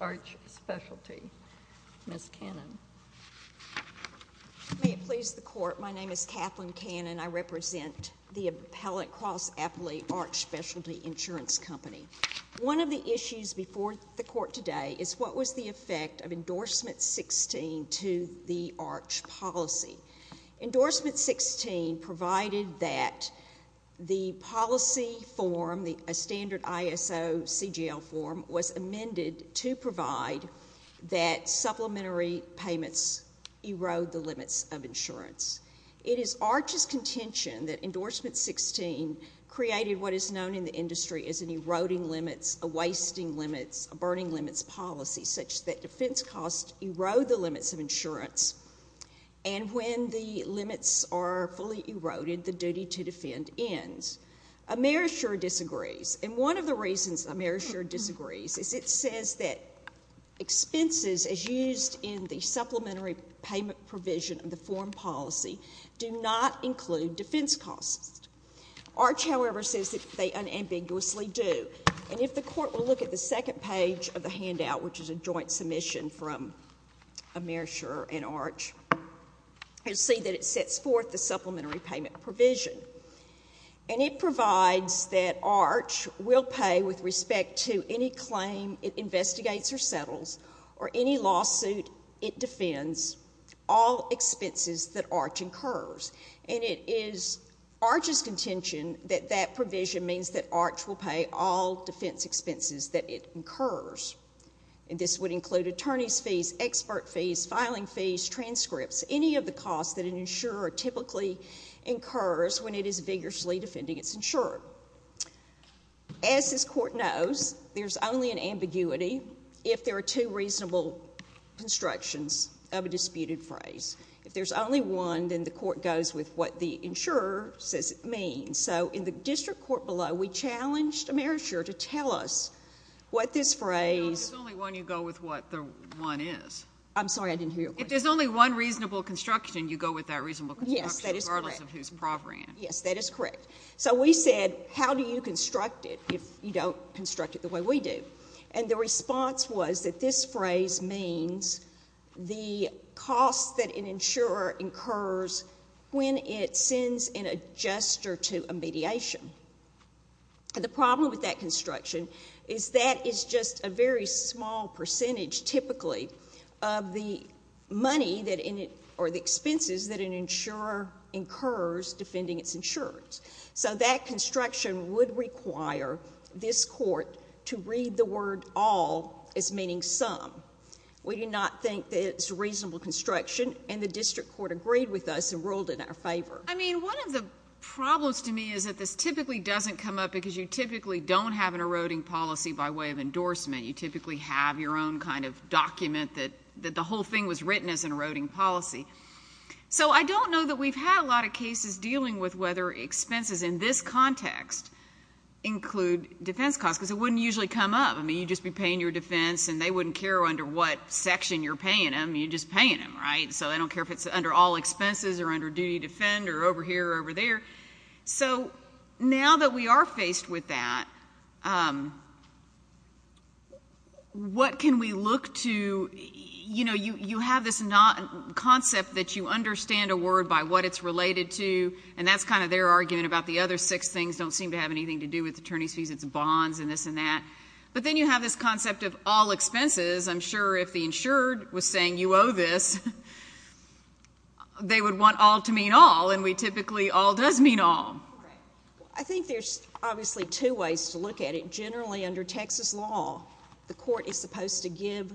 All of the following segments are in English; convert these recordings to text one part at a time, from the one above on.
May it please the Court, my name is Kathleen Cannon. I represent the Appellant Cross Appellate Arch Specialty Insurance Company. One of the issues before the Court today is what was the effect of Endorsement 16 to the Arch policy. Endorsement 16 provided that the policy form, a standard ISO CGL form, was amended to provide that supplementary payments erode the limits of insurance. It is Arch's contention that Endorsement 16 created what is known in the industry as an eroding limits, a wasting limits, a burning limits policy, such that defense costs erode the limits of insurance, and when the limits are fully eroded, the duty to defend ends. Amerishur disagrees, and one of the reasons Amerishur disagrees is it says that expenses as used in the supplementary payment provision of the form policy do not include defense costs. Arch, however, says that they unambiguously do, and if the Court will look at the second page of the handout, which is a joint submission from Amerishur and Arch, you'll see that it sets forth the supplementary payment provision, and it provides that Arch will pay with respect to any claim it investigates or settles or any lawsuit it defends all expenses that Arch incurs, and it is Arch's contention that that provision means that Arch will pay all defense expenses that it incurs, and this would include attorney's fees, expert fees, filing fees, transcripts, any of the costs that an insurer typically incurs when it is vigorously defending its insurer. As this Court knows, there's only an ambiguity if there are two reasonable constructions of a disputed phrase. If there's only one, then the Court goes with what the insurer says it means, so in the district court below, we challenged Amerishur to tell us what this phrase— No, there's only one. You go with what the one is. I'm sorry, I didn't hear your question. If there's only one reasonable construction, you go with that reasonable construction— Yes, that is correct. —regardless of who's proffering it. Yes, that is correct. So we said, how do you construct it if you don't construct it the way we do? And the response was that this phrase means the cost that an insurer incurs when it sends an adjuster to a mediation. The problem with that construction is that that is just a very small percentage, typically, of the money or the expenses that an insurer incurs defending its insurance. So that construction would require this Court to read the word all as meaning some. We do not think that it's a reasonable construction, and the district court agreed with us and ruled in our favor. I mean, one of the problems to me is that this typically doesn't come up because you typically don't have an eroding policy by way of endorsement. You typically have your own kind of document that the whole thing was written as an eroding policy. So I don't know that we've had a lot of cases dealing with whether expenses in this context include defense costs, because it wouldn't usually come up. I mean, you'd just be paying your defense and they wouldn't care under what section you're paying them. You're just paying them, right? So they don't care if it's under all expenses or under duty to defend or over here or over there. So now that we are faced with that, what can we look to? You know, you have this concept that you understand a word by what it's related to, and that's kind of their argument about the other six things don't seem to have anything to do with attorney's fees. It's bonds and this and that. But then you have this concept of all expenses. I'm sure if the insured was mean all. I think there's obviously two ways to look at it. Generally under Texas law, the court is supposed to give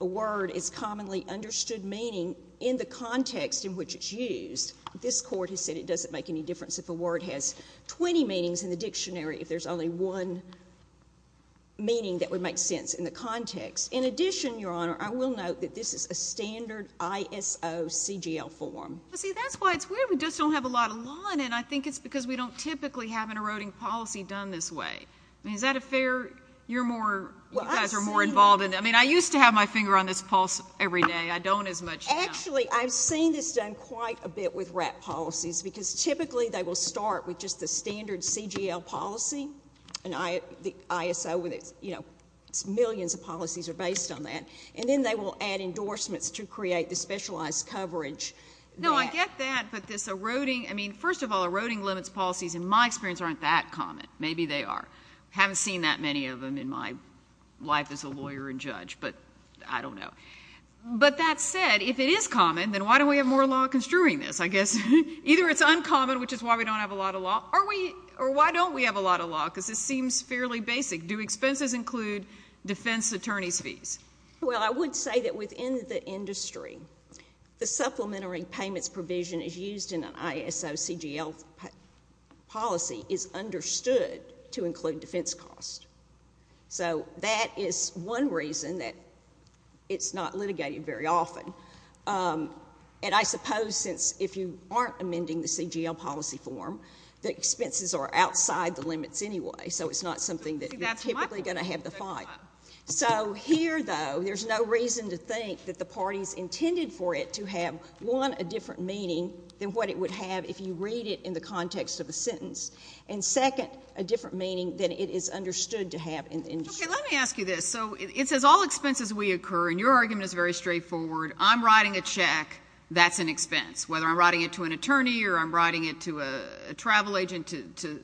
a word its commonly understood meaning in the context in which it's used. This court has said it doesn't make any difference if a word has 20 meanings in the dictionary if there's only one meaning that would make sense in the context. In addition, Your Honor, I will note that this is a standard ISOCGL form. See, that's why it's weird. We just don't have a lot of law in it. I think it's because we don't typically have an eroding policy done this way. I mean, is that a fair? You're more, you guys are more involved in it. I mean, I used to have my finger on this pulse every day. I don't as much now. Actually, I've seen this done quite a bit with WRAP policies because typically they will start with just the standard CGL policy and the ISO, you know, millions of policies are based on that. And then they will add endorsements to create the specialized coverage No, I get that, but this eroding, I mean, first of all, eroding limits policies in my experience aren't that common. Maybe they are. I haven't seen that many of them in my life as a lawyer and judge, but I don't know. But that said, if it is common, then why don't we have more law construing this? I guess either it's uncommon, which is why we don't have a lot of law, or why don't we have a lot of law? Because this seems fairly basic. Do expenses include defense attorney's fees? Well, I would say that within the industry, the supplementary payments provision is used in an ISO CGL policy is understood to include defense costs. So that is one reason that it's not litigated very often. And I suppose since if you aren't amending the CGL policy form, the expenses are outside the limits anyway, so it's not something that you're typically going to have to fight. So here, though, there's no reason to think that the parties intended for it to have, one, a different meaning than what it would have if you read it in the context of a sentence, and second, a different meaning than it is understood to have in the industry. Okay, let me ask you this. So it says all expenses we incur, and your argument is very straightforward. I'm writing a check. That's an expense. Whether I'm writing it to an attorney or I'm writing it to a travel agent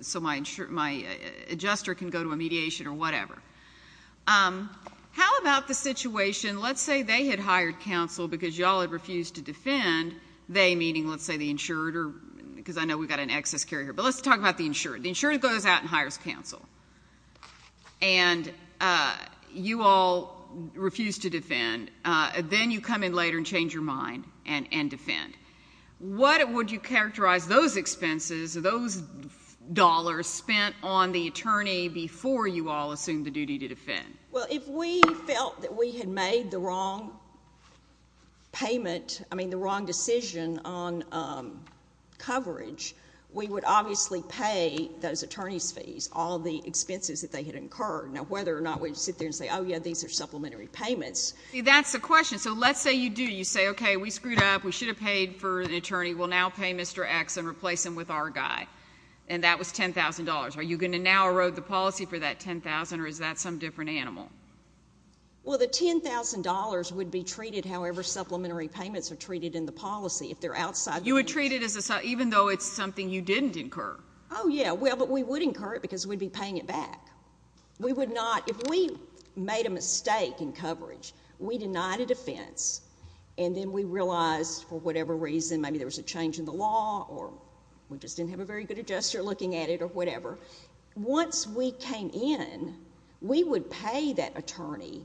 so my adjuster can go to a mediation or whatever. How about the situation, let's say they had hired counsel because you all had refused to defend, they meaning, let's say, the insurer, because I know we've got an excess carrier, but let's talk about the insurer. The insurer goes out and hires counsel, and you all refuse to defend. Then you come in later and change your mind and defend. What would you characterize those expenses, those dollars spent on the attorney before you all assumed the duty to defend? Well, if we felt that we had made the wrong payment, I mean, the wrong decision on coverage, we would obviously pay those attorneys' fees, all the expenses that they had incurred. Now, whether or not we sit there and say, oh, yeah, these are supplementary payments. That's the question. So let's say you do. You say, okay, we screwed up. We should have paid for an attorney. We'll now pay Mr. X and replace him with our guy, and that was $10,000. Are you going to now erode the policy for that $10,000, or is that some different animal? Well, the $10,000 would be treated however supplementary payments are treated in the policy. If they're outside the— You would treat it as a—even though it's something you didn't incur. Oh, yeah. Well, but we would incur it because we'd be paying it back. We would not—if we made a mistake in coverage, we denied a defense, and then we realized for whatever reason—maybe there was a change in the law, or we just didn't have a very good adjuster looking at it, or whatever. Once we came in, we would pay that attorney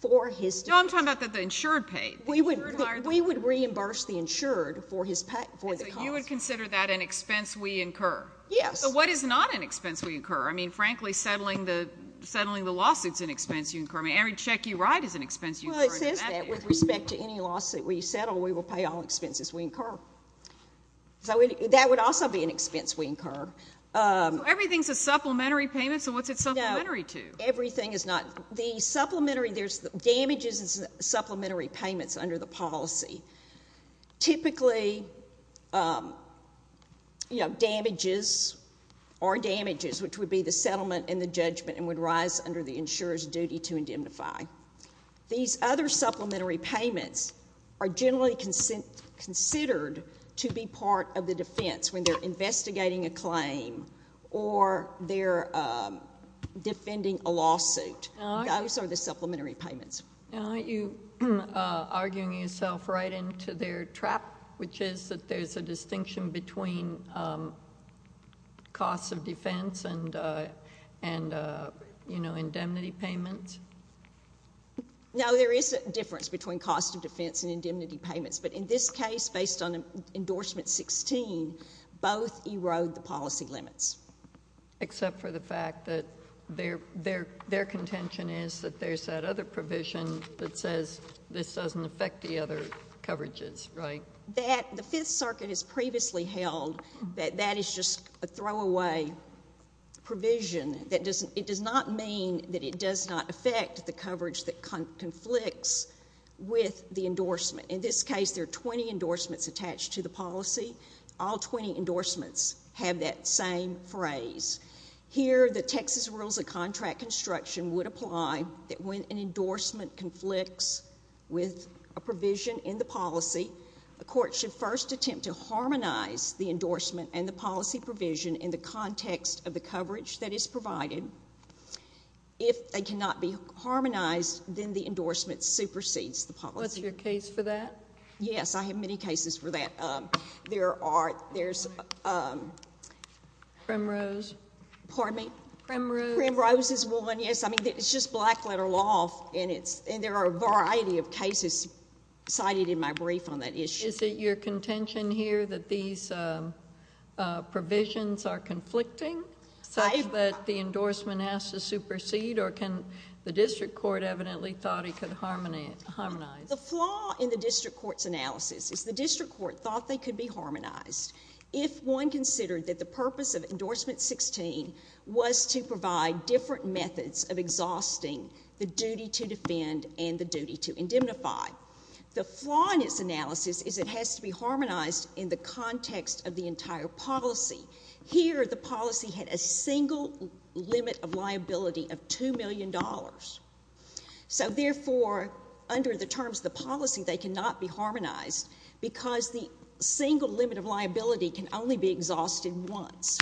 for his— No, I'm talking about the insured pay. We would reimburse the insured for the cost. So you would consider that an expense we incur? Yes. So what is not an expense we incur? I mean, frankly, settling the lawsuits is an expense you incur. I mean, every check you write is an expense you incur. Well, it says that with respect to any lawsuit we settle, we will pay all expenses we incur. So that would also be an expense we incur. Everything's a supplementary payment, so what's it supplementary to? Everything is not—the supplementary—there's damages and supplementary payments under the name of damages or damages, which would be the settlement and the judgment and would rise under the insurer's duty to indemnify. These other supplementary payments are generally considered to be part of the defense when they're investigating a claim or they're defending a lawsuit. Those are the supplementary payments. Now, aren't you arguing yourself right into their trap, which is that there's a distinction between cost of defense and indemnity payments? No, there is a difference between cost of defense and indemnity payments, but in this case, based on Endorsement 16, both erode the policy limits. Except for the fact that their contention is that there's that other provision that says this doesn't affect the other coverages, right? The Fifth Circuit has previously held that that is just a throwaway provision. It does not mean that it does not affect the coverage that conflicts with the endorsement. In this phrase, here the Texas Rules of Contract Construction would apply that when an endorsement conflicts with a provision in the policy, a court should first attempt to harmonize the endorsement and the policy provision in the context of the coverage that is provided. If they cannot be harmonized, then the endorsement supersedes the policy. What's your case for that? Yes, I have many cases for that. There are... Krimrose? Krimrose? Krimrose is one, yes. I mean, it's just black-letter law, and there are a variety of cases cited in my brief on that issue. Is it your contention here that these provisions are conflicting, that the endorsement has to supersede, or can... the district court evidently thought it could harmonize? The flaw in the district court's analysis is the district court thought they could be harmonized if one considered that the purpose of Endorsement 16 was to provide different methods of exhausting the duty to defend and the duty to indemnify. The flaw in its analysis is it has to be harmonized in the context of the entire policy. Here, the policy had a single limit of liability of $2 million. Therefore, under the terms of the policy, they cannot be harmonized because the single limit of liability can only be exhausted once.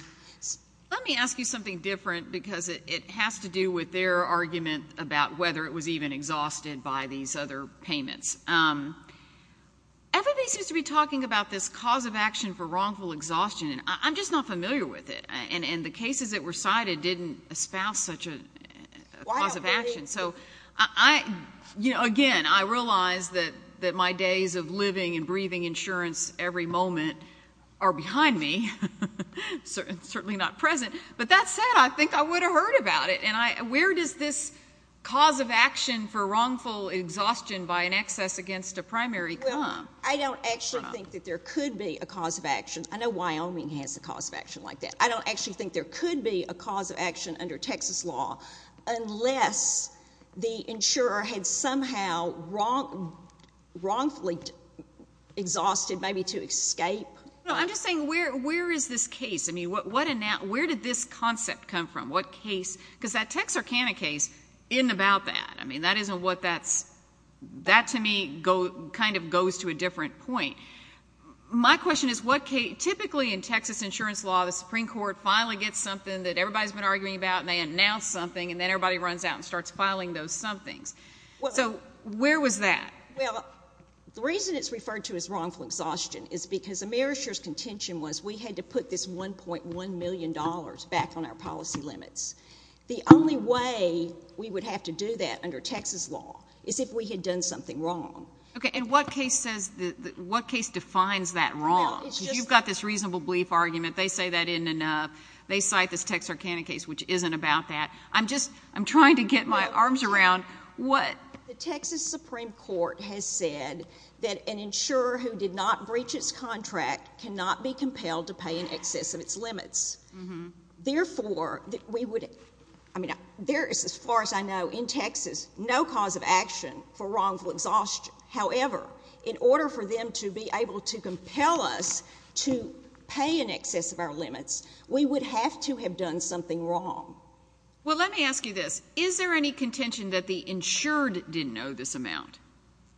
Let me ask you something different because it has to do with their argument about whether it was even exhausted by these other payments. Everybody seems to be talking about this cause of action for wrongful exhaustion, and I'm just not familiar with it, and the cases that were cited didn't espouse such a cause of action, so I... again, I realize that my days of living and breathing insurance every moment are behind me, certainly not present, but that said, I think I would have heard about it, and where does this cause of action for wrongful exhaustion by an excess against a primary come from? I don't actually think that there could be a cause of action. I know Wyoming has a cause of action like that. I don't actually think there could be a cause of action under Texas law unless the insurer had somehow wrongfully exhausted maybe to escape... No, I'm just saying where is this case? I mean, where did this concept come from? What case... because that Texarkana case isn't about that. I mean, that isn't what that's... that to me kind of goes to a different point. My question is what case... typically in Texas insurance law, the Supreme Court finally gets something that everybody's been arguing about, and they announce something, and then everybody runs out and starts filing those somethings. So where was that? Well, the reason it's referred to as wrongful exhaustion is because AmeriShare's contention was we had to put this $1.1 million back on our policy limits. The only way we would have to do that under Texas law is if we had done something wrong. Okay, and what case defines that wrong? You've got this reasonable belief argument. They say that isn't enough. They cite this Texarkana case, which isn't about that. I'm just... I'm trying to get my arms around what... The Texas Supreme Court has said that an insurer who did not breach its contract cannot be in Texas, no cause of action for wrongful exhaustion. However, in order for them to be able to compel us to pay in excess of our limits, we would have to have done something wrong. Well, let me ask you this. Is there any contention that the insured didn't owe this amount?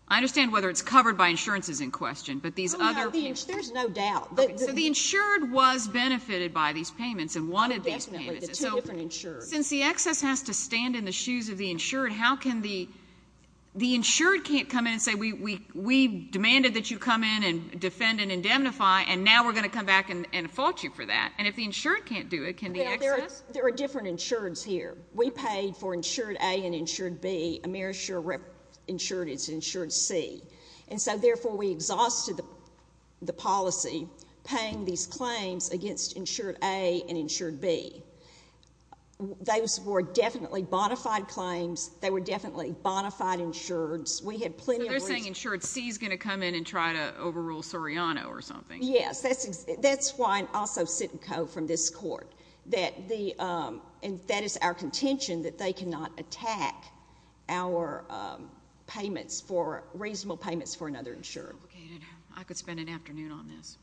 I understand whether it's covered by insurances in question, but these other... Oh, no, there's no doubt. So the insured was benefited by these payments and wanted these payments. Oh, definitely, the two different insureds. Since the excess has to stand in the shoes of the insured, how can the... the insured can't come in and say, we demanded that you come in and defend and indemnify, and now we're going to come back and fault you for that. And if the insured can't do it, can the excess... There are different insureds here. We paid for insured A and insured B. Amerishare insured is insured C. And so, therefore, we exhausted the policy paying these claims against insured A and insured B. Those were definitely bonafide claims. They were definitely bonafide insureds. We had plenty of... So they're saying insured C is going to come in and try to overrule Soriano or something. Yes. That's why I'm also sitting co- from this court, that the... and that is our contention that they cannot attack our payments for... reasonable payments for another insured. Okay. I could spend an afternoon on this.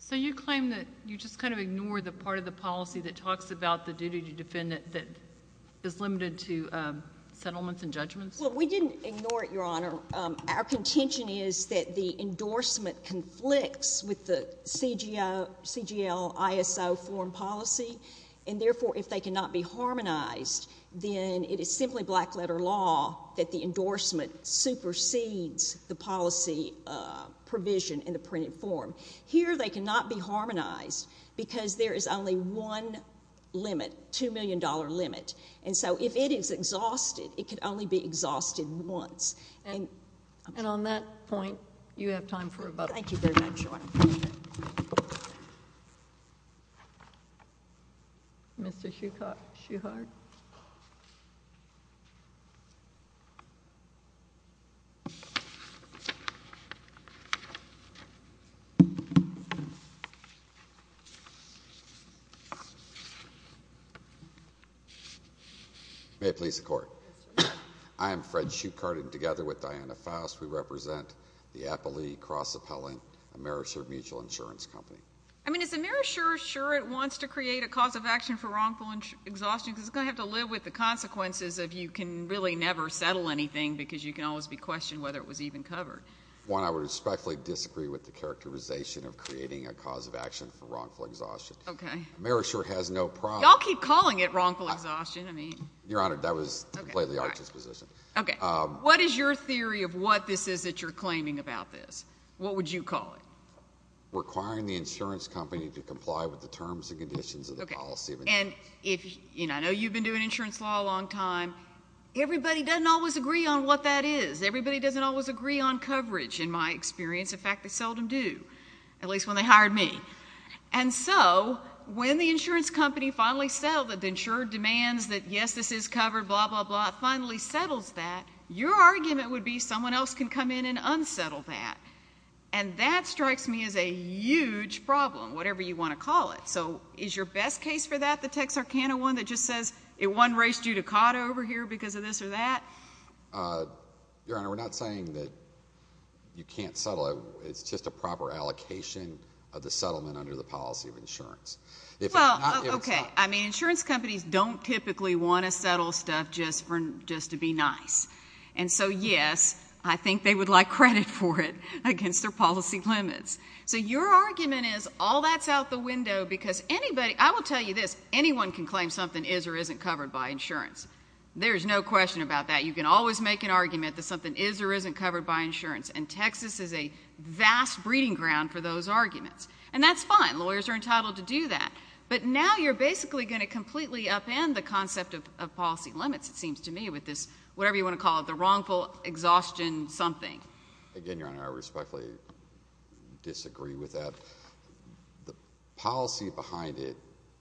So you claim that you just kind of ignore the part of the policy that talks about the duty to defend it that is limited to settlements and judgments? Well, we didn't ignore it, Your Honor. Our contention is that the endorsement conflicts with the CGL-ISO form policy, and therefore, if they cannot be harmonized, then it is simply black-letter law that the endorsement supersedes the policy provision in the printed form. Here they cannot be harmonized because there is only one limit, $2 million limit. And so if it is exhausted, it could only be exhausted once. And on that point, you have time for rebuttal. Thank you very much, Your Honor. Mr. Shuhart. May it please the Court. I am Fred Shuhart, and together with Diana Faust, we represent the Appellee Cross-Appellant AmeriShure Mutual Insurance Company. I mean, is AmeriShure sure it wants to create a cause of action for wrongful exhaustion? Because it is going to have to live with the consequences of you can really never settle anything because you can always be questioned whether it was even covered. One, I would respectfully disagree with the characterization of creating a cause of action for wrongful exhaustion. Okay. AmeriShure has no problem... Y'all keep calling it wrongful exhaustion. I mean... Your Honor, that was completely arch's position. Okay. What is your theory of what this is that you're claiming about this? What would you call it? Requiring the insurance company to comply with the terms and conditions of the policy... Okay. And if... I know you've been doing insurance law a long time. Everybody doesn't always agree on what that is. Everybody doesn't always agree on coverage, in my experience. In fact, they seldom do, at least when they hired me. And so, when the insurance company finally settled that the insured demands that, yes, this is covered, blah, blah, blah, finally settles that, your argument would be someone else can come in and unsettle that. And that strikes me as a huge problem, whatever you want to call it. So, is your best case for that the Texarkana one that just says, it won race judicata over here because of this or that? Your Honor, we're not saying that you can't settle it. It's just a proper allocation of the settlement under the policy of insurance. Well, okay. I mean, insurance companies don't typically want to settle stuff just to be nice. And so, yes, I think they would like credit for it against their policy limits. So, your argument is all that's out the window because anybody... I will tell you this, anyone can claim something is or isn't covered by insurance. There is no question about that. You can always make an argument that something is or isn't covered by insurance. And Texas is a vast breeding ground for those arguments. And that's fine. Lawyers are entitled to do that. But now you're basically going to completely upend the concept of policy limits, it seems to me, with this, whatever you want to call it, the wrongful exhaustion something. Again, your Honor, I respectfully disagree with that. The policy behind it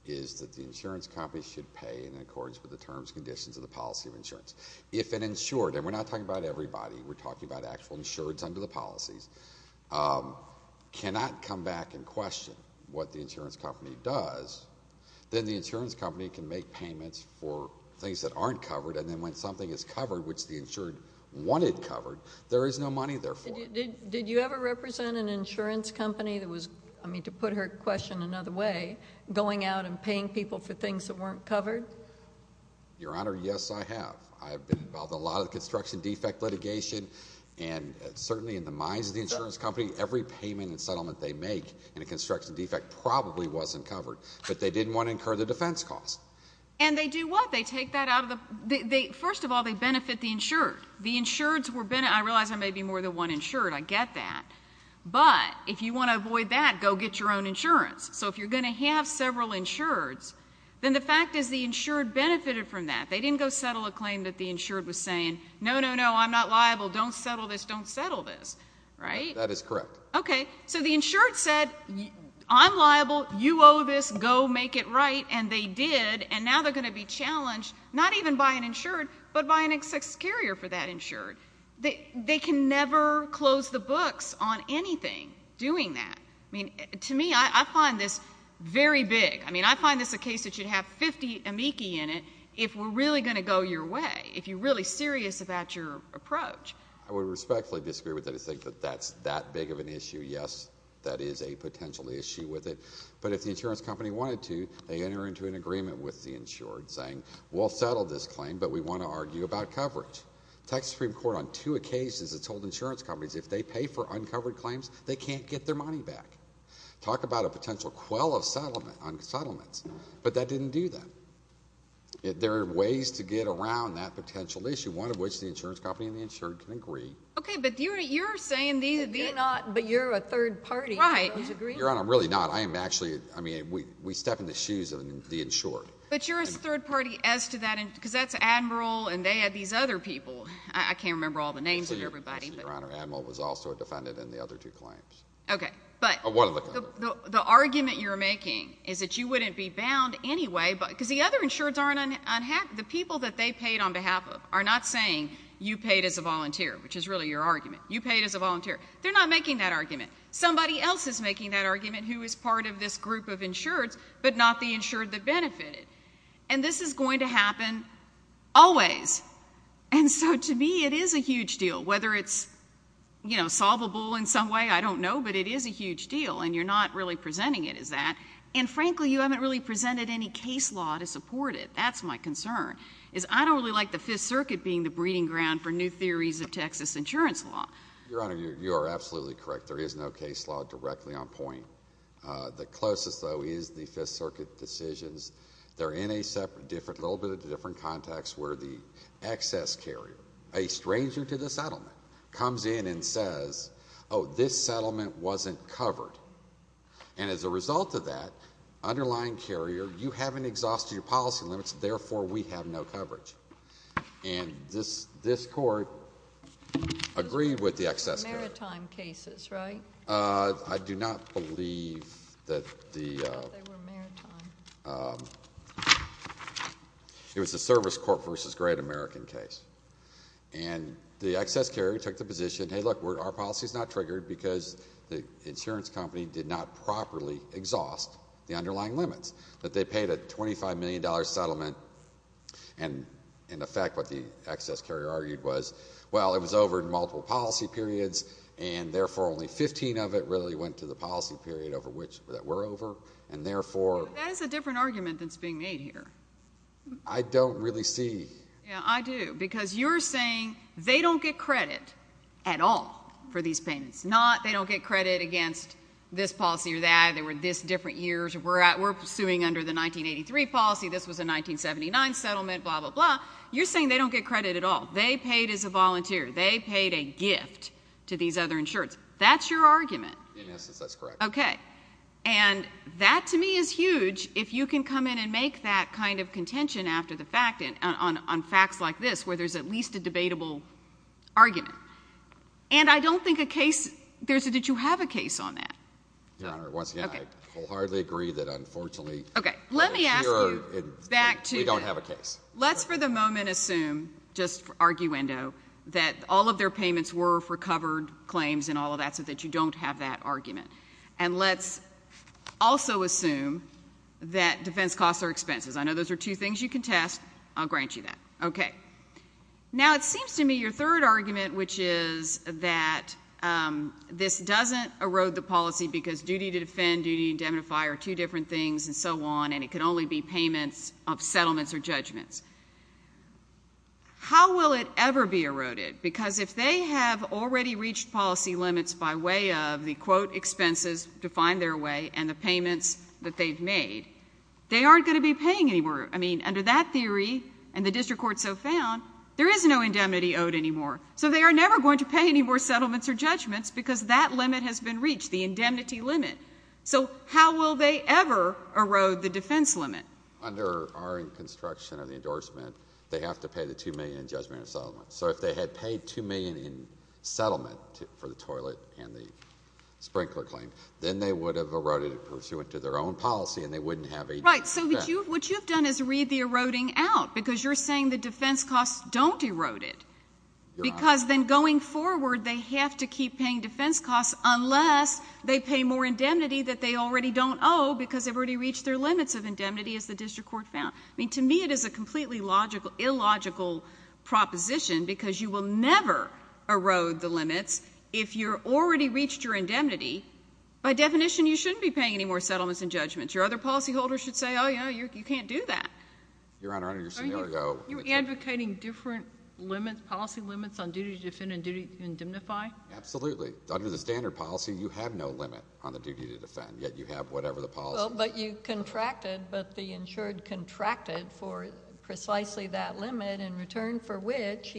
is that the insurance companies should pay in accordance with the terms and conditions of the policy of insurance. If an insured, and we're not talking about everybody, we're talking about actual insureds under the policies, cannot come back and question what the insurance company does, then the insurance company can make payments for things that aren't covered. And then when something is covered, which the insured wanted covered, there is no money there for it. Did you ever represent an insurance company that was, I mean, to put her question another way, going out and paying people for things that weren't covered? Your Honor, yes, I have. I have been involved in a lot of construction defect litigation, and certainly in the minds of the insurance company, every payment and settlement they make in a construction defect probably wasn't covered. But they didn't want to incur the defense cost. And they do what? They take that out of the, first of all, they benefit the insured. The insureds were, I realize I may be more than one insured, I get that. But if you want to avoid that, go get your own insurance. So if you're going to have several insureds, then the fact is the insured benefited from that. They didn't go settle a claim that the insured was saying, no, no, no, I'm not liable, don't settle this, don't settle this, right? That is correct. Okay. So the insured said, I'm liable, you owe this, go make it right, and they did. And now they're going to be challenged, not even by an insured, but by an ex-carrier for that insured. They can never close the books on anything doing that. I mean, to me, I find this very big. I mean, I find this a case that should have 50 amici in it if we're really going to go your way, if you're really serious about your approach. I would respectfully disagree with that. I think that that's that big of an issue. Yes, that is a potential issue with it. But if the insurance company wanted to, they enter into an agreement with the insured saying, we'll settle this claim, but we want to argue about coverage. Texas Supreme Court on two occasions has told insurance companies if they pay for uncovered claims, they can't get their money back. Talk about a potential quell of settlements. But that didn't do that. There are ways to get around that potential issue, one of which the insurance company and the insured can agree. Okay, but you're saying these – You're not, but you're a third party. Right. Your Honor, I'm really not. I am actually, I mean, we step in the shoes of the insured. But you're a third party as to that, because that's Admiral and they had these other people. I can't remember all the names of everybody. Your Honor, Admiral was also a defendant in the other two claims. Okay, but the argument you're making is that you wouldn't be bound anyway, because the other insureds aren't – the people that they paid on behalf of are not saying you paid as a volunteer, which is really your argument. You paid as a volunteer. They're not making that argument. Somebody else is making that argument who is part of this group of insureds, but not the insured that benefited. And this is going to happen always. And so to me, it is a huge deal. Whether it's solvable in some way, I don't know, but it is a huge deal, and you're not really presenting it as that. And frankly, you haven't really presented any case law to support it. That's my concern, is I don't really like the Fifth Circuit being the breeding ground for new theories of Texas insurance law. Your Honor, you are absolutely correct. There is no case law directly on point. The closest, though, is the Fifth Circuit decisions. They're in a little bit of a different context where the excess carrier, a stranger to the settlement, comes in and says, oh, this settlement wasn't covered. And as a result of that, underlying carrier, you haven't exhausted your policy limits, therefore we have no coverage. And this court agreed with the excess carrier. Maritime cases, right? I do not believe that the ‑‑ I thought they were maritime. It was a Service Corp versus Great American case. And the excess carrier took the position, hey, look, our policy is not triggered because the insurance company did not properly exhaust the underlying limits, that they paid a $25 million settlement. And in effect, what the excess carrier argued was, well, it was over in multiple policy periods, and therefore only 15 of it really went to the policy period that we're over, and therefore ‑‑ That is a different argument that's being made here. I don't really see ‑‑ Yeah, I do, because you're saying they don't get credit at all for these payments, not they don't get credit against this policy or that, they were this different years, we're suing under the 1983 policy, this was a 1979 settlement, blah, blah, blah. You're saying they don't get credit at all. They paid as a volunteer. They paid a gift to these other insurers. That's your argument. In essence, that's correct. Okay. And that to me is huge, if you can come in and make that kind of contention after the fact, on facts like this, where there's at least a debatable argument. And I don't think a case ‑‑ did you have a case on that? Your Honor, once again, I wholeheartedly agree that unfortunately ‑‑ Okay. Let me ask you ‑‑ We don't have a case. Let's for the moment assume, just for arguendo, that all of their payments were for covered claims and all of that, so that you don't have that argument. And let's also assume that defense costs are expenses. I know those are two things you can test. I'll grant you that. Okay. Now, it seems to me your third argument, which is that this doesn't erode the policy because duty to defend, duty to indemnify are two different things and so on, and it can only be payments of settlements or judgments. How will it ever be eroded? Because if they have already reached policy limits by way of the, quote, expenses to find their way and the payments that they've made, they aren't going to be paying anymore. I mean, under that theory and the district court so found, there is no indemnity owed anymore. So they are never going to pay any more settlements or judgments because that limit has been reached, the indemnity limit. So how will they ever erode the defense limit? Under our construction of the endorsement, they have to pay the $2 million in judgment and settlement. So if they had paid $2 million in settlement for the toilet and the sprinkler claim, then they would have eroded it pursuant to their own policy and they wouldn't have a defense. Right. So what you've done is read the eroding out because you're saying the defense costs don't erode it. You're right. Because then going forward, they have to keep paying defense costs unless they pay more indemnity that they already don't owe because they've already reached their limits of indemnity as the district court found. I mean, to me, it is a completely illogical proposition because you will never erode the limits if you've already reached your indemnity. By definition, you shouldn't be paying any more settlements and judgments. Your other policyholders should say, oh, yeah, you can't do that. Your Honor, under your scenario, You're advocating different policy limits on duty to defend and duty to indemnify? Absolutely. Under the standard policy, you have no limit on the duty to defend, yet you have whatever the policy is. But you contracted, but the insured contracted for precisely that limit in return for which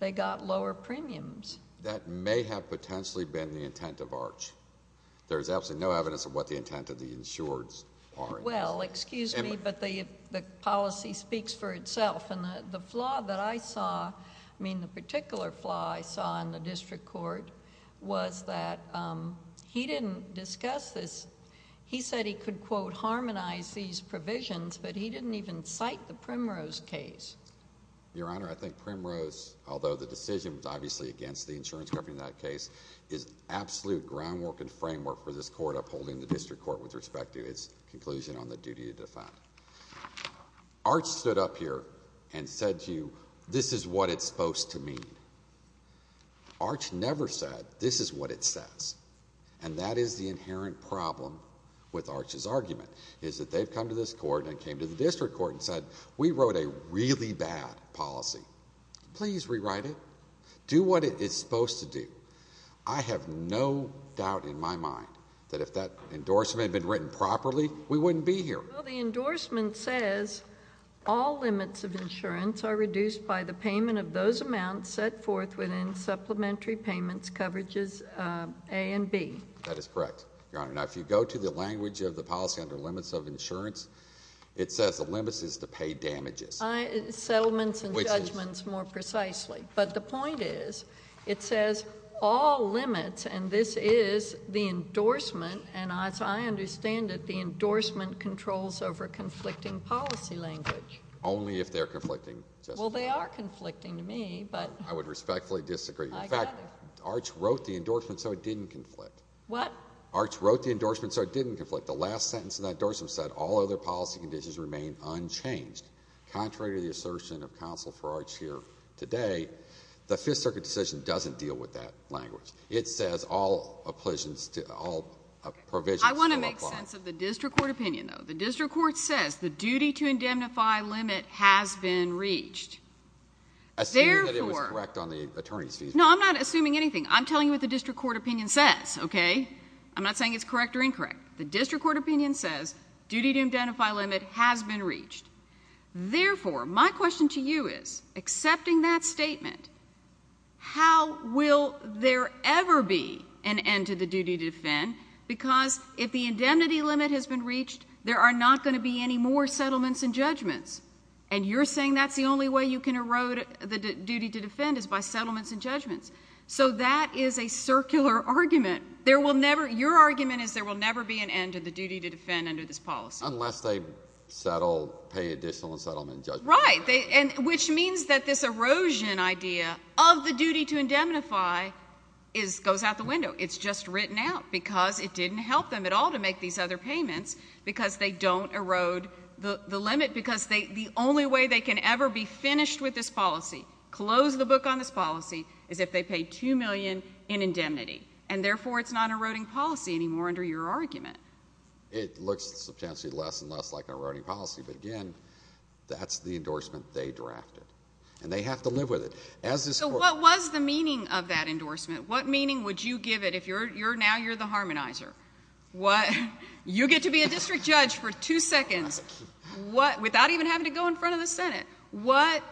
they got lower premiums. That may have potentially been the intent of ARCH. There's absolutely no evidence of what the intent of the insureds are. Well, excuse me, but the policy speaks for itself. The flaw that I saw, I mean, the particular flaw I saw in the district court was that he didn't discuss this. He said he could, quote, harmonize these provisions, but he didn't even cite the Primrose case. Your Honor, I think Primrose, although the decision was obviously against the insurance company in that case, is absolute groundwork and framework for this court holding the district court with respect to its conclusion on the duty to defend. ARCH stood up here and said to you, This is what it's supposed to mean. ARCH never said, This is what it says. And that is the inherent problem with ARCH's argument, is that they've come to this court and came to the district court and said, We wrote a really bad policy. Please rewrite it. Do what it is supposed to do. I have no doubt in my mind that if that endorsement had been written properly, we wouldn't be here. Well, the endorsement says, All limits of insurance are reduced by the payment of those amounts set forth within supplementary payments coverages A and B. That is correct, Your Honor. Now, if you go to the language of the policy under limits of insurance, it says the limits is to pay damages. Settlements and judgments, more precisely. But the point is, it says all limits, and this is the endorsement, and as I understand it, the endorsement controls over conflicting policy language. Only if they're conflicting. Well, they are conflicting to me. I would respectfully disagree. In fact, ARCH wrote the endorsement so it didn't conflict. What? ARCH wrote the endorsement so it didn't conflict. The last sentence of that endorsement said, All other policy conditions remain unchanged. Contrary to the assertion of counsel for ARCH here today, the Fifth Circuit decision doesn't deal with that language. It says all provisions still apply. I want to make sense of the district court opinion, though. The district court says the duty to indemnify limit has been reached. Assuming that it was correct on the attorney's visa. No, I'm not assuming anything. I'm telling you what the district court opinion says. I'm not saying it's correct or incorrect. The district court opinion says duty to indemnify limit has been reached. Therefore, my question to you is, accepting that statement, how will there ever be an end to the duty to defend? Because if the indemnity limit has been reached, there are not going to be any more settlements and judgments. And you're saying that's the only way you can erode the duty to defend, is by settlements and judgments. So that is a circular argument. Your argument is there will never be an end to the duty to defend under this policy. Unless they settle, pay additional settlement and judgment. Right. Which means that this erosion idea of the duty to indemnify goes out the window. It's just written out because it didn't help them at all to make these other payments because they don't erode the limit. Because the only way they can ever be finished with this policy, close the book on this policy, is if they pay $2 million in indemnity. And therefore, it's not an eroding policy anymore under your argument. It looks substantially less and less like an eroding policy. But, again, that's the endorsement they drafted. And they have to live with it. So what was the meaning of that endorsement? What meaning would you give it if now you're the harmonizer? You get to be a district judge for two seconds without even having to go in front of the Senate. What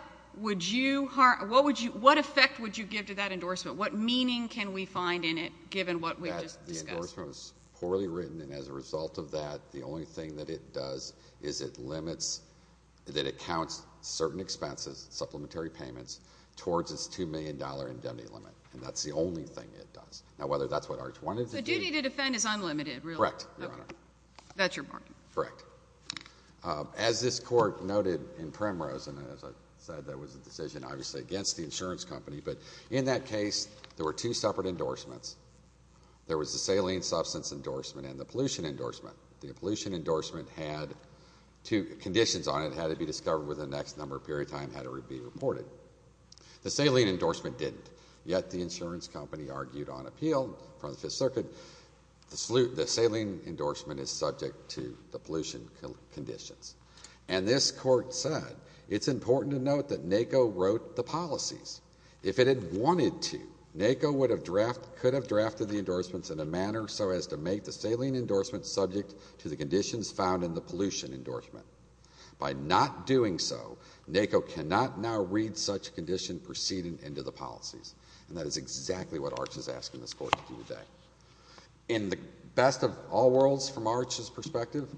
effect would you give to that endorsement? What meaning can we find in it, given what we've just discussed? The endorsement was poorly written. And as a result of that, the only thing that it does is it limits that it counts certain expenses, supplementary payments, towards its $2 million indemnity limit. And that's the only thing it does. Now, whether that's what Arch wanted to do. So duty to defend is unlimited, really? Correct, Your Honor. That's your point. Correct. As this Court noted in Primrose, and as I said, that was a decision, obviously, against the insurance company. But in that case, there were two separate endorsements. There was the saline substance endorsement and the pollution endorsement. The pollution endorsement had two conditions on it. It had to be discovered within the next number of periods of time it had to be reported. The saline endorsement didn't. Yet the insurance company argued on appeal in front of the Fifth Circuit, the saline endorsement is subject to the pollution conditions. And this Court said, it's important to note that NACO wrote the policies. If it had wanted to, NACO could have drafted the endorsements in a manner so as to make the saline endorsement subject to the conditions found in the pollution endorsement. By not doing so, NACO cannot now read such condition proceeding into the policies. And that is exactly what Arch is asking this Court to do today. In the best of all worlds, from Arch's perspective,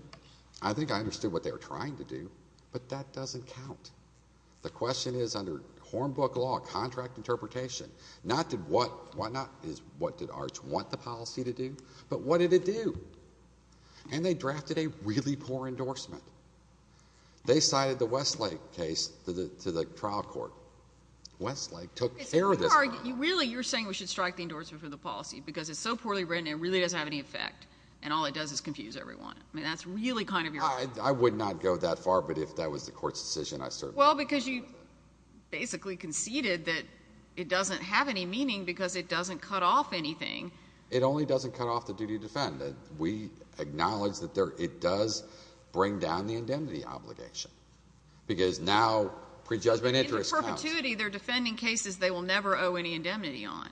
I think I understood what they were trying to do, but that doesn't count. The question is under Hornbook law, contract interpretation, not what did Arch want the policy to do, but what did it do? And they drafted a really poor endorsement. They cited the Westlake case to the trial court. Westlake took care of this one. Really, you're saying we should strike the endorsement for the policy because it's so poorly written, it really doesn't have any effect, and all it does is confuse everyone. I mean, that's really kind of your argument. I would not go that far, but if that was the Court's decision, I certainly would. Well, because you basically conceded that it doesn't have any meaning because it doesn't cut off anything. It only doesn't cut off the duty to defend. We acknowledge that it does bring down the indemnity obligation, because now prejudgment interest counts. In perpetuity, they're defending cases they will never owe any indemnity on.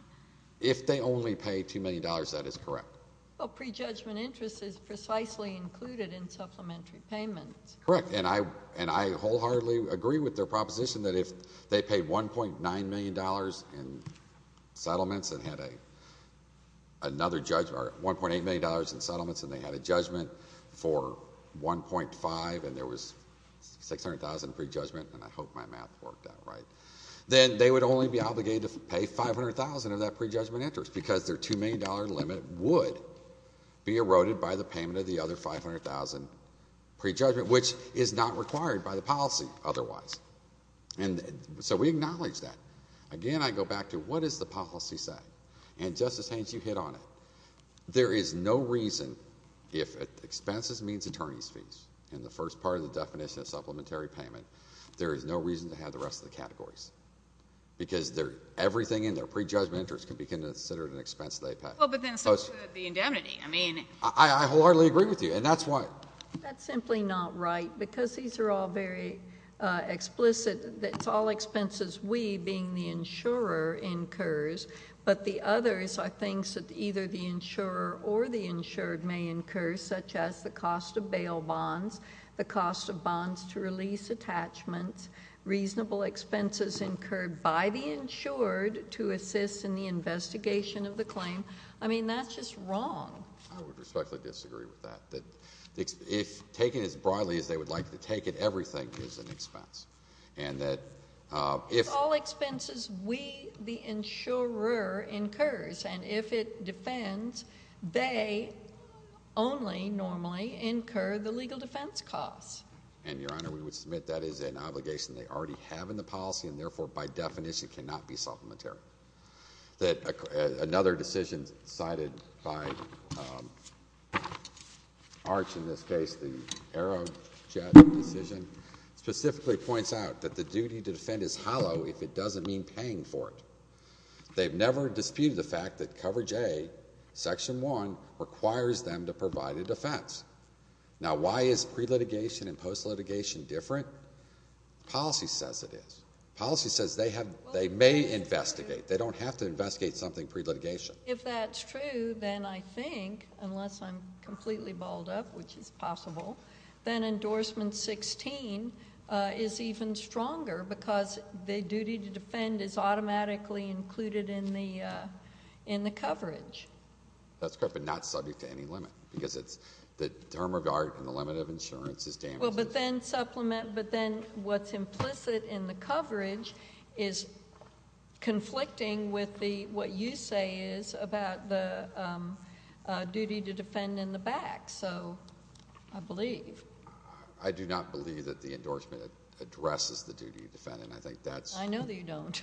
If they only pay $2 million, that is correct. Well, prejudgment interest is precisely included in supplementary payments. Correct, and I wholeheartedly agree with their proposition that if they paid $1.9 million in settlements and had another $1.8 million in settlements and they had a judgment for $1.5 million and there was $600,000 in prejudgment, and I hope my math worked out right, then they would only be obligated to pay $500,000 of that prejudgment interest because their $2 million limit would be eroded by the payment of the other $500,000 prejudgment, which is not required by the policy otherwise. So we acknowledge that. Again, I go back to what does the policy say? And, Justice Haynes, you hit on it. There is no reason if expenses means attorney's fees in the first part of the definition of supplementary payment, there is no reason to have the rest of the categories because everything in their prejudgment interest can be considered an expense they pay. Well, but then so should the indemnity. I wholeheartedly agree with you, and that's why. That's simply not right because these are all very explicit. It's all expenses we, being the insurer, incurs, but the others are things that either the insurer or the insured may incur, such as the cost of bail bonds, the cost of bonds to release attachments, reasonable expenses incurred by the insured to assist in the investigation of the claim. I mean, that's just wrong. I would respectfully disagree with that. If taken as broadly as they would like to take it, everything is an expense. It's all expenses we, the insurer, incurs, and if it defends, they only normally incur the legal defense costs. And, Your Honor, we would submit that is an obligation they already have in the policy and, therefore, by definition cannot be supplementary. Another decision cited by Arch in this case, the Aerojet decision, specifically points out that the duty to defend is hollow if it doesn't mean paying for it. They've never disputed the fact that Coverage A, Section 1, requires them to provide a defense. Now, why is pre-litigation and post-litigation different? Policy says it is. Policy says they may investigate. They don't have to investigate something pre-litigation. If that's true, then I think, unless I'm completely balled up, which is possible, then Endorsement 16 is even stronger because the duty to defend is automatically included in the coverage. That's correct, but not subject to any limit because it's the term of guard and the limit of insurance is damages. Well, but then what's implicit in the coverage is conflicting with what you say is about the duty to defend in the back, so I believe. I do not believe that the endorsement addresses the duty to defend, and I think that's... I know that you don't.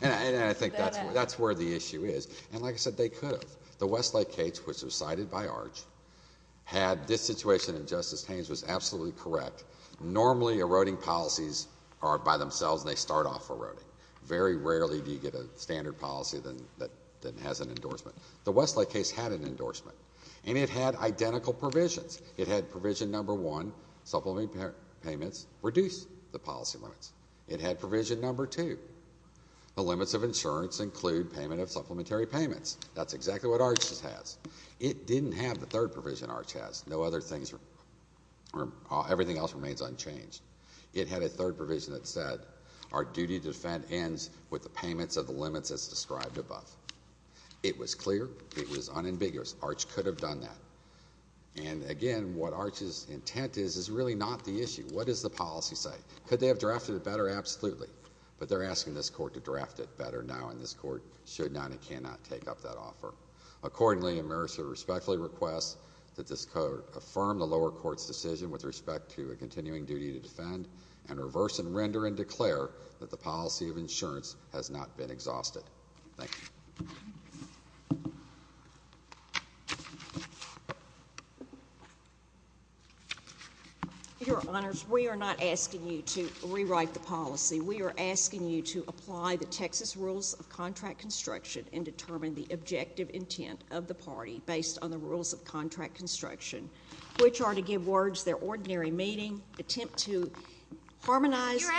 And I think that's where the issue is. And like I said, they could have. The Westlake case, which was cited by Arch, had this situation, and Justice Haynes was absolutely correct. Normally, eroding policies are by themselves, and they start off eroding. Very rarely do you get a standard policy that has an endorsement. The Westlake case had an endorsement, and it had identical provisions. It had provision number one, supplementary payments reduce the policy limits. It had provision number two. The limits of insurance include payment of supplementary payments. That's exactly what Arch has. It didn't have the third provision Arch has. No other things... everything else remains unchanged. It had a third provision that said our duty to defend ends with the payments of the limits as described above. It was clear. It was unambiguous. Arch could have done that. And again, what Arch's intent is is really not the issue. What does the policy say? Could they have drafted it better? Absolutely. But they're asking this court to draft it better now, and this court should not and cannot take up that offer. Accordingly, and Marissa respectfully requests that this court affirm the lower court's decision with respect to a continuing duty to defend, and reverse and render and declare that the policy of insurance has not been exhausted. Thank you. Your Honors, we are not asking you to rewrite the policy. We are asking you to apply the Texas rules of contract construction and determine the objective intent of the party based on the rules of contract construction, which are to give words their ordinary meaning, attempt to harmonize... Because,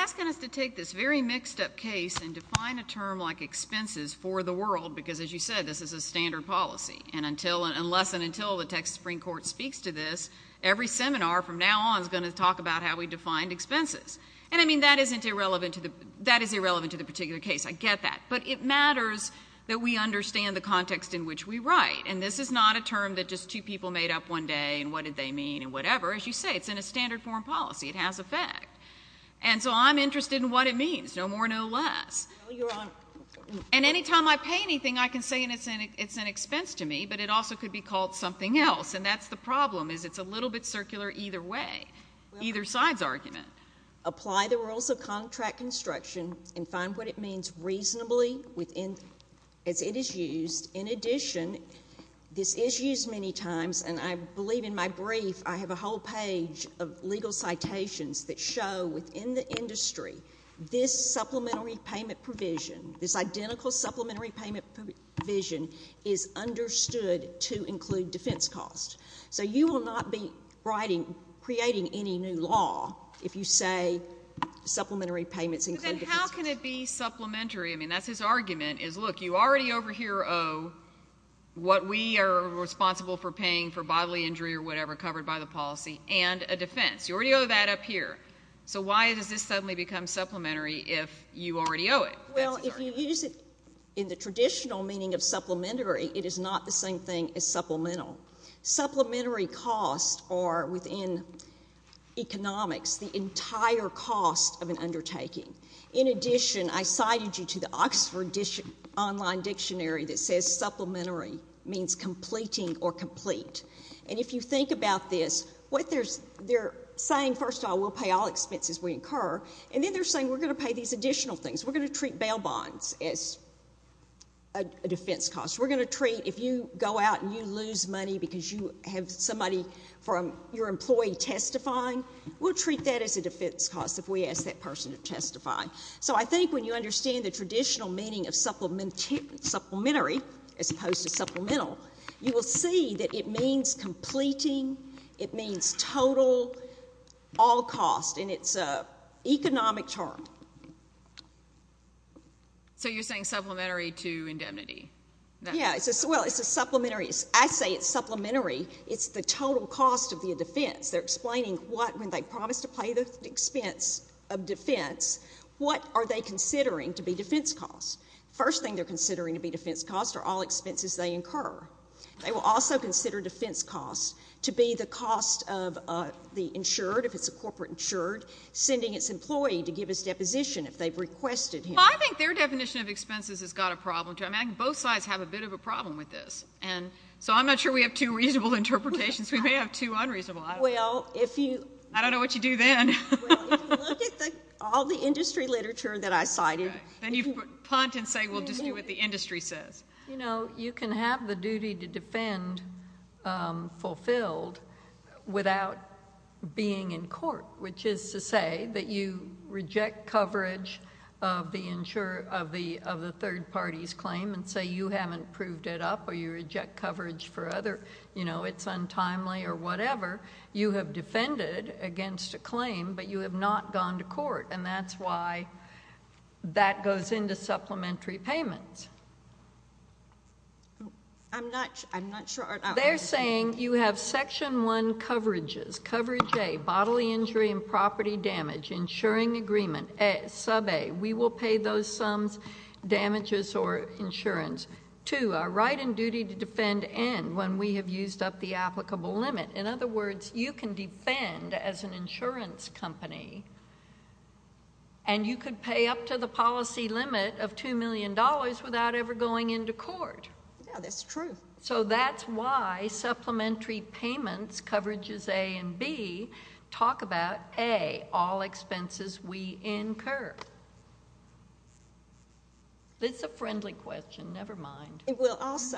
as you said, this is a standard policy. And unless and until the Texas Supreme Court speaks to this, every seminar from now on is going to talk about how we defined expenses. And, I mean, that is irrelevant to the particular case. I get that. But it matters that we understand the context in which we write. And this is not a term that just two people made up one day and what did they mean and whatever. As you say, it's in a standard form policy. It has effect. And so I'm interested in what it means, no more, no less. And any time I pay anything, I can say it's an expense to me, but it also could be called something else. And that's the problem, is it's a little bit circular either way, either side's argument. Apply the rules of contract construction and find what it means reasonably as it is used. In addition, this is used many times, and I believe in my brief I have a whole page of legal citations that show within the industry this supplementary payment provision, this identical supplementary payment provision is understood to include defense costs. So you will not be writing, creating any new law if you say supplementary payments include defense costs. But then how can it be supplementary? I mean, that's his argument is, look, you already over here owe what we are responsible for paying for bodily injury or whatever covered by the policy and a defense. You already owe that up here. So why does this suddenly become supplementary if you already owe it? Well, if you use it in the traditional meaning of supplementary, it is not the same thing as supplemental. Supplementary costs are within economics the entire cost of an undertaking. In addition, I cited you to the Oxford Online Dictionary that says supplementary means completing or complete. And if you think about this, what they're saying, first of all, we'll pay all expenses we incur, and then they're saying we're going to pay these additional things. We're going to treat bail bonds as a defense cost. We're going to treat if you go out and you lose money because you have somebody from your employee testifying, we'll treat that as a defense cost if we ask that person to testify. So I think when you understand the traditional meaning of supplementary as opposed to supplemental, you will see that it means completing, it means total, all cost, and it's an economic term. So you're saying supplementary to indemnity. Yeah, well, it's a supplementary. I say it's supplementary. It's the total cost of the defense. They're explaining what when they promise to pay the expense of defense, what are they considering to be defense costs. First thing they're considering to be defense costs are all expenses they incur. They will also consider defense costs to be the cost of the insured, if it's a corporate insured, sending its employee to give his deposition if they've requested him. Well, I think their definition of expenses has got a problem, too. I mean, I think both sides have a bit of a problem with this. And so I'm not sure we have two reasonable interpretations. We may have two unreasonable. I don't know. Well, if you — I don't know what you do then. Well, if you look at all the industry literature that I cited — Okay. Then you punt and say, well, just do what the industry says. You know, you can have the duty to defend fulfilled without being in court, which is to say that you reject coverage of the third party's claim and say you haven't proved it up or you reject coverage for other, you know, it's untimely or whatever. You have defended against a claim, but you have not gone to court. And that's why that goes into supplementary payments. I'm not sure about that. They're saying you have Section 1 coverages, coverage A, bodily injury and property damage, insuring agreement, sub A. We will pay those sums, damages or insurance. Two, a right and duty to defend and when we have used up the applicable limit. In other words, you can defend as an insurance company and you could pay up to the policy limit of $2 million without ever going into court. Yeah, that's true. So that's why supplementary payments coverages A and B talk about A, all expenses we incur. It's a friendly question. Never mind. Well, also,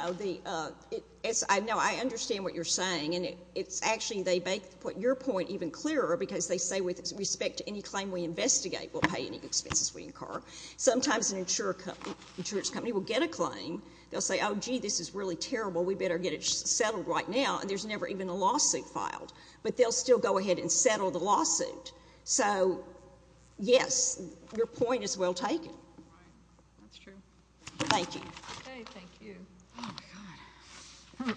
I know I understand what you're saying, and it's actually they make your point even clearer because they say with respect to any claim we investigate, we'll pay any expenses we incur. Sometimes an insurance company will get a claim. They'll say, oh, gee, this is really terrible. We better get it settled right now, and there's never even a lawsuit filed. But they'll still go ahead and settle the lawsuit. So, yes, your point is well taken. That's true. Thank you. Thank you. Oh, my God.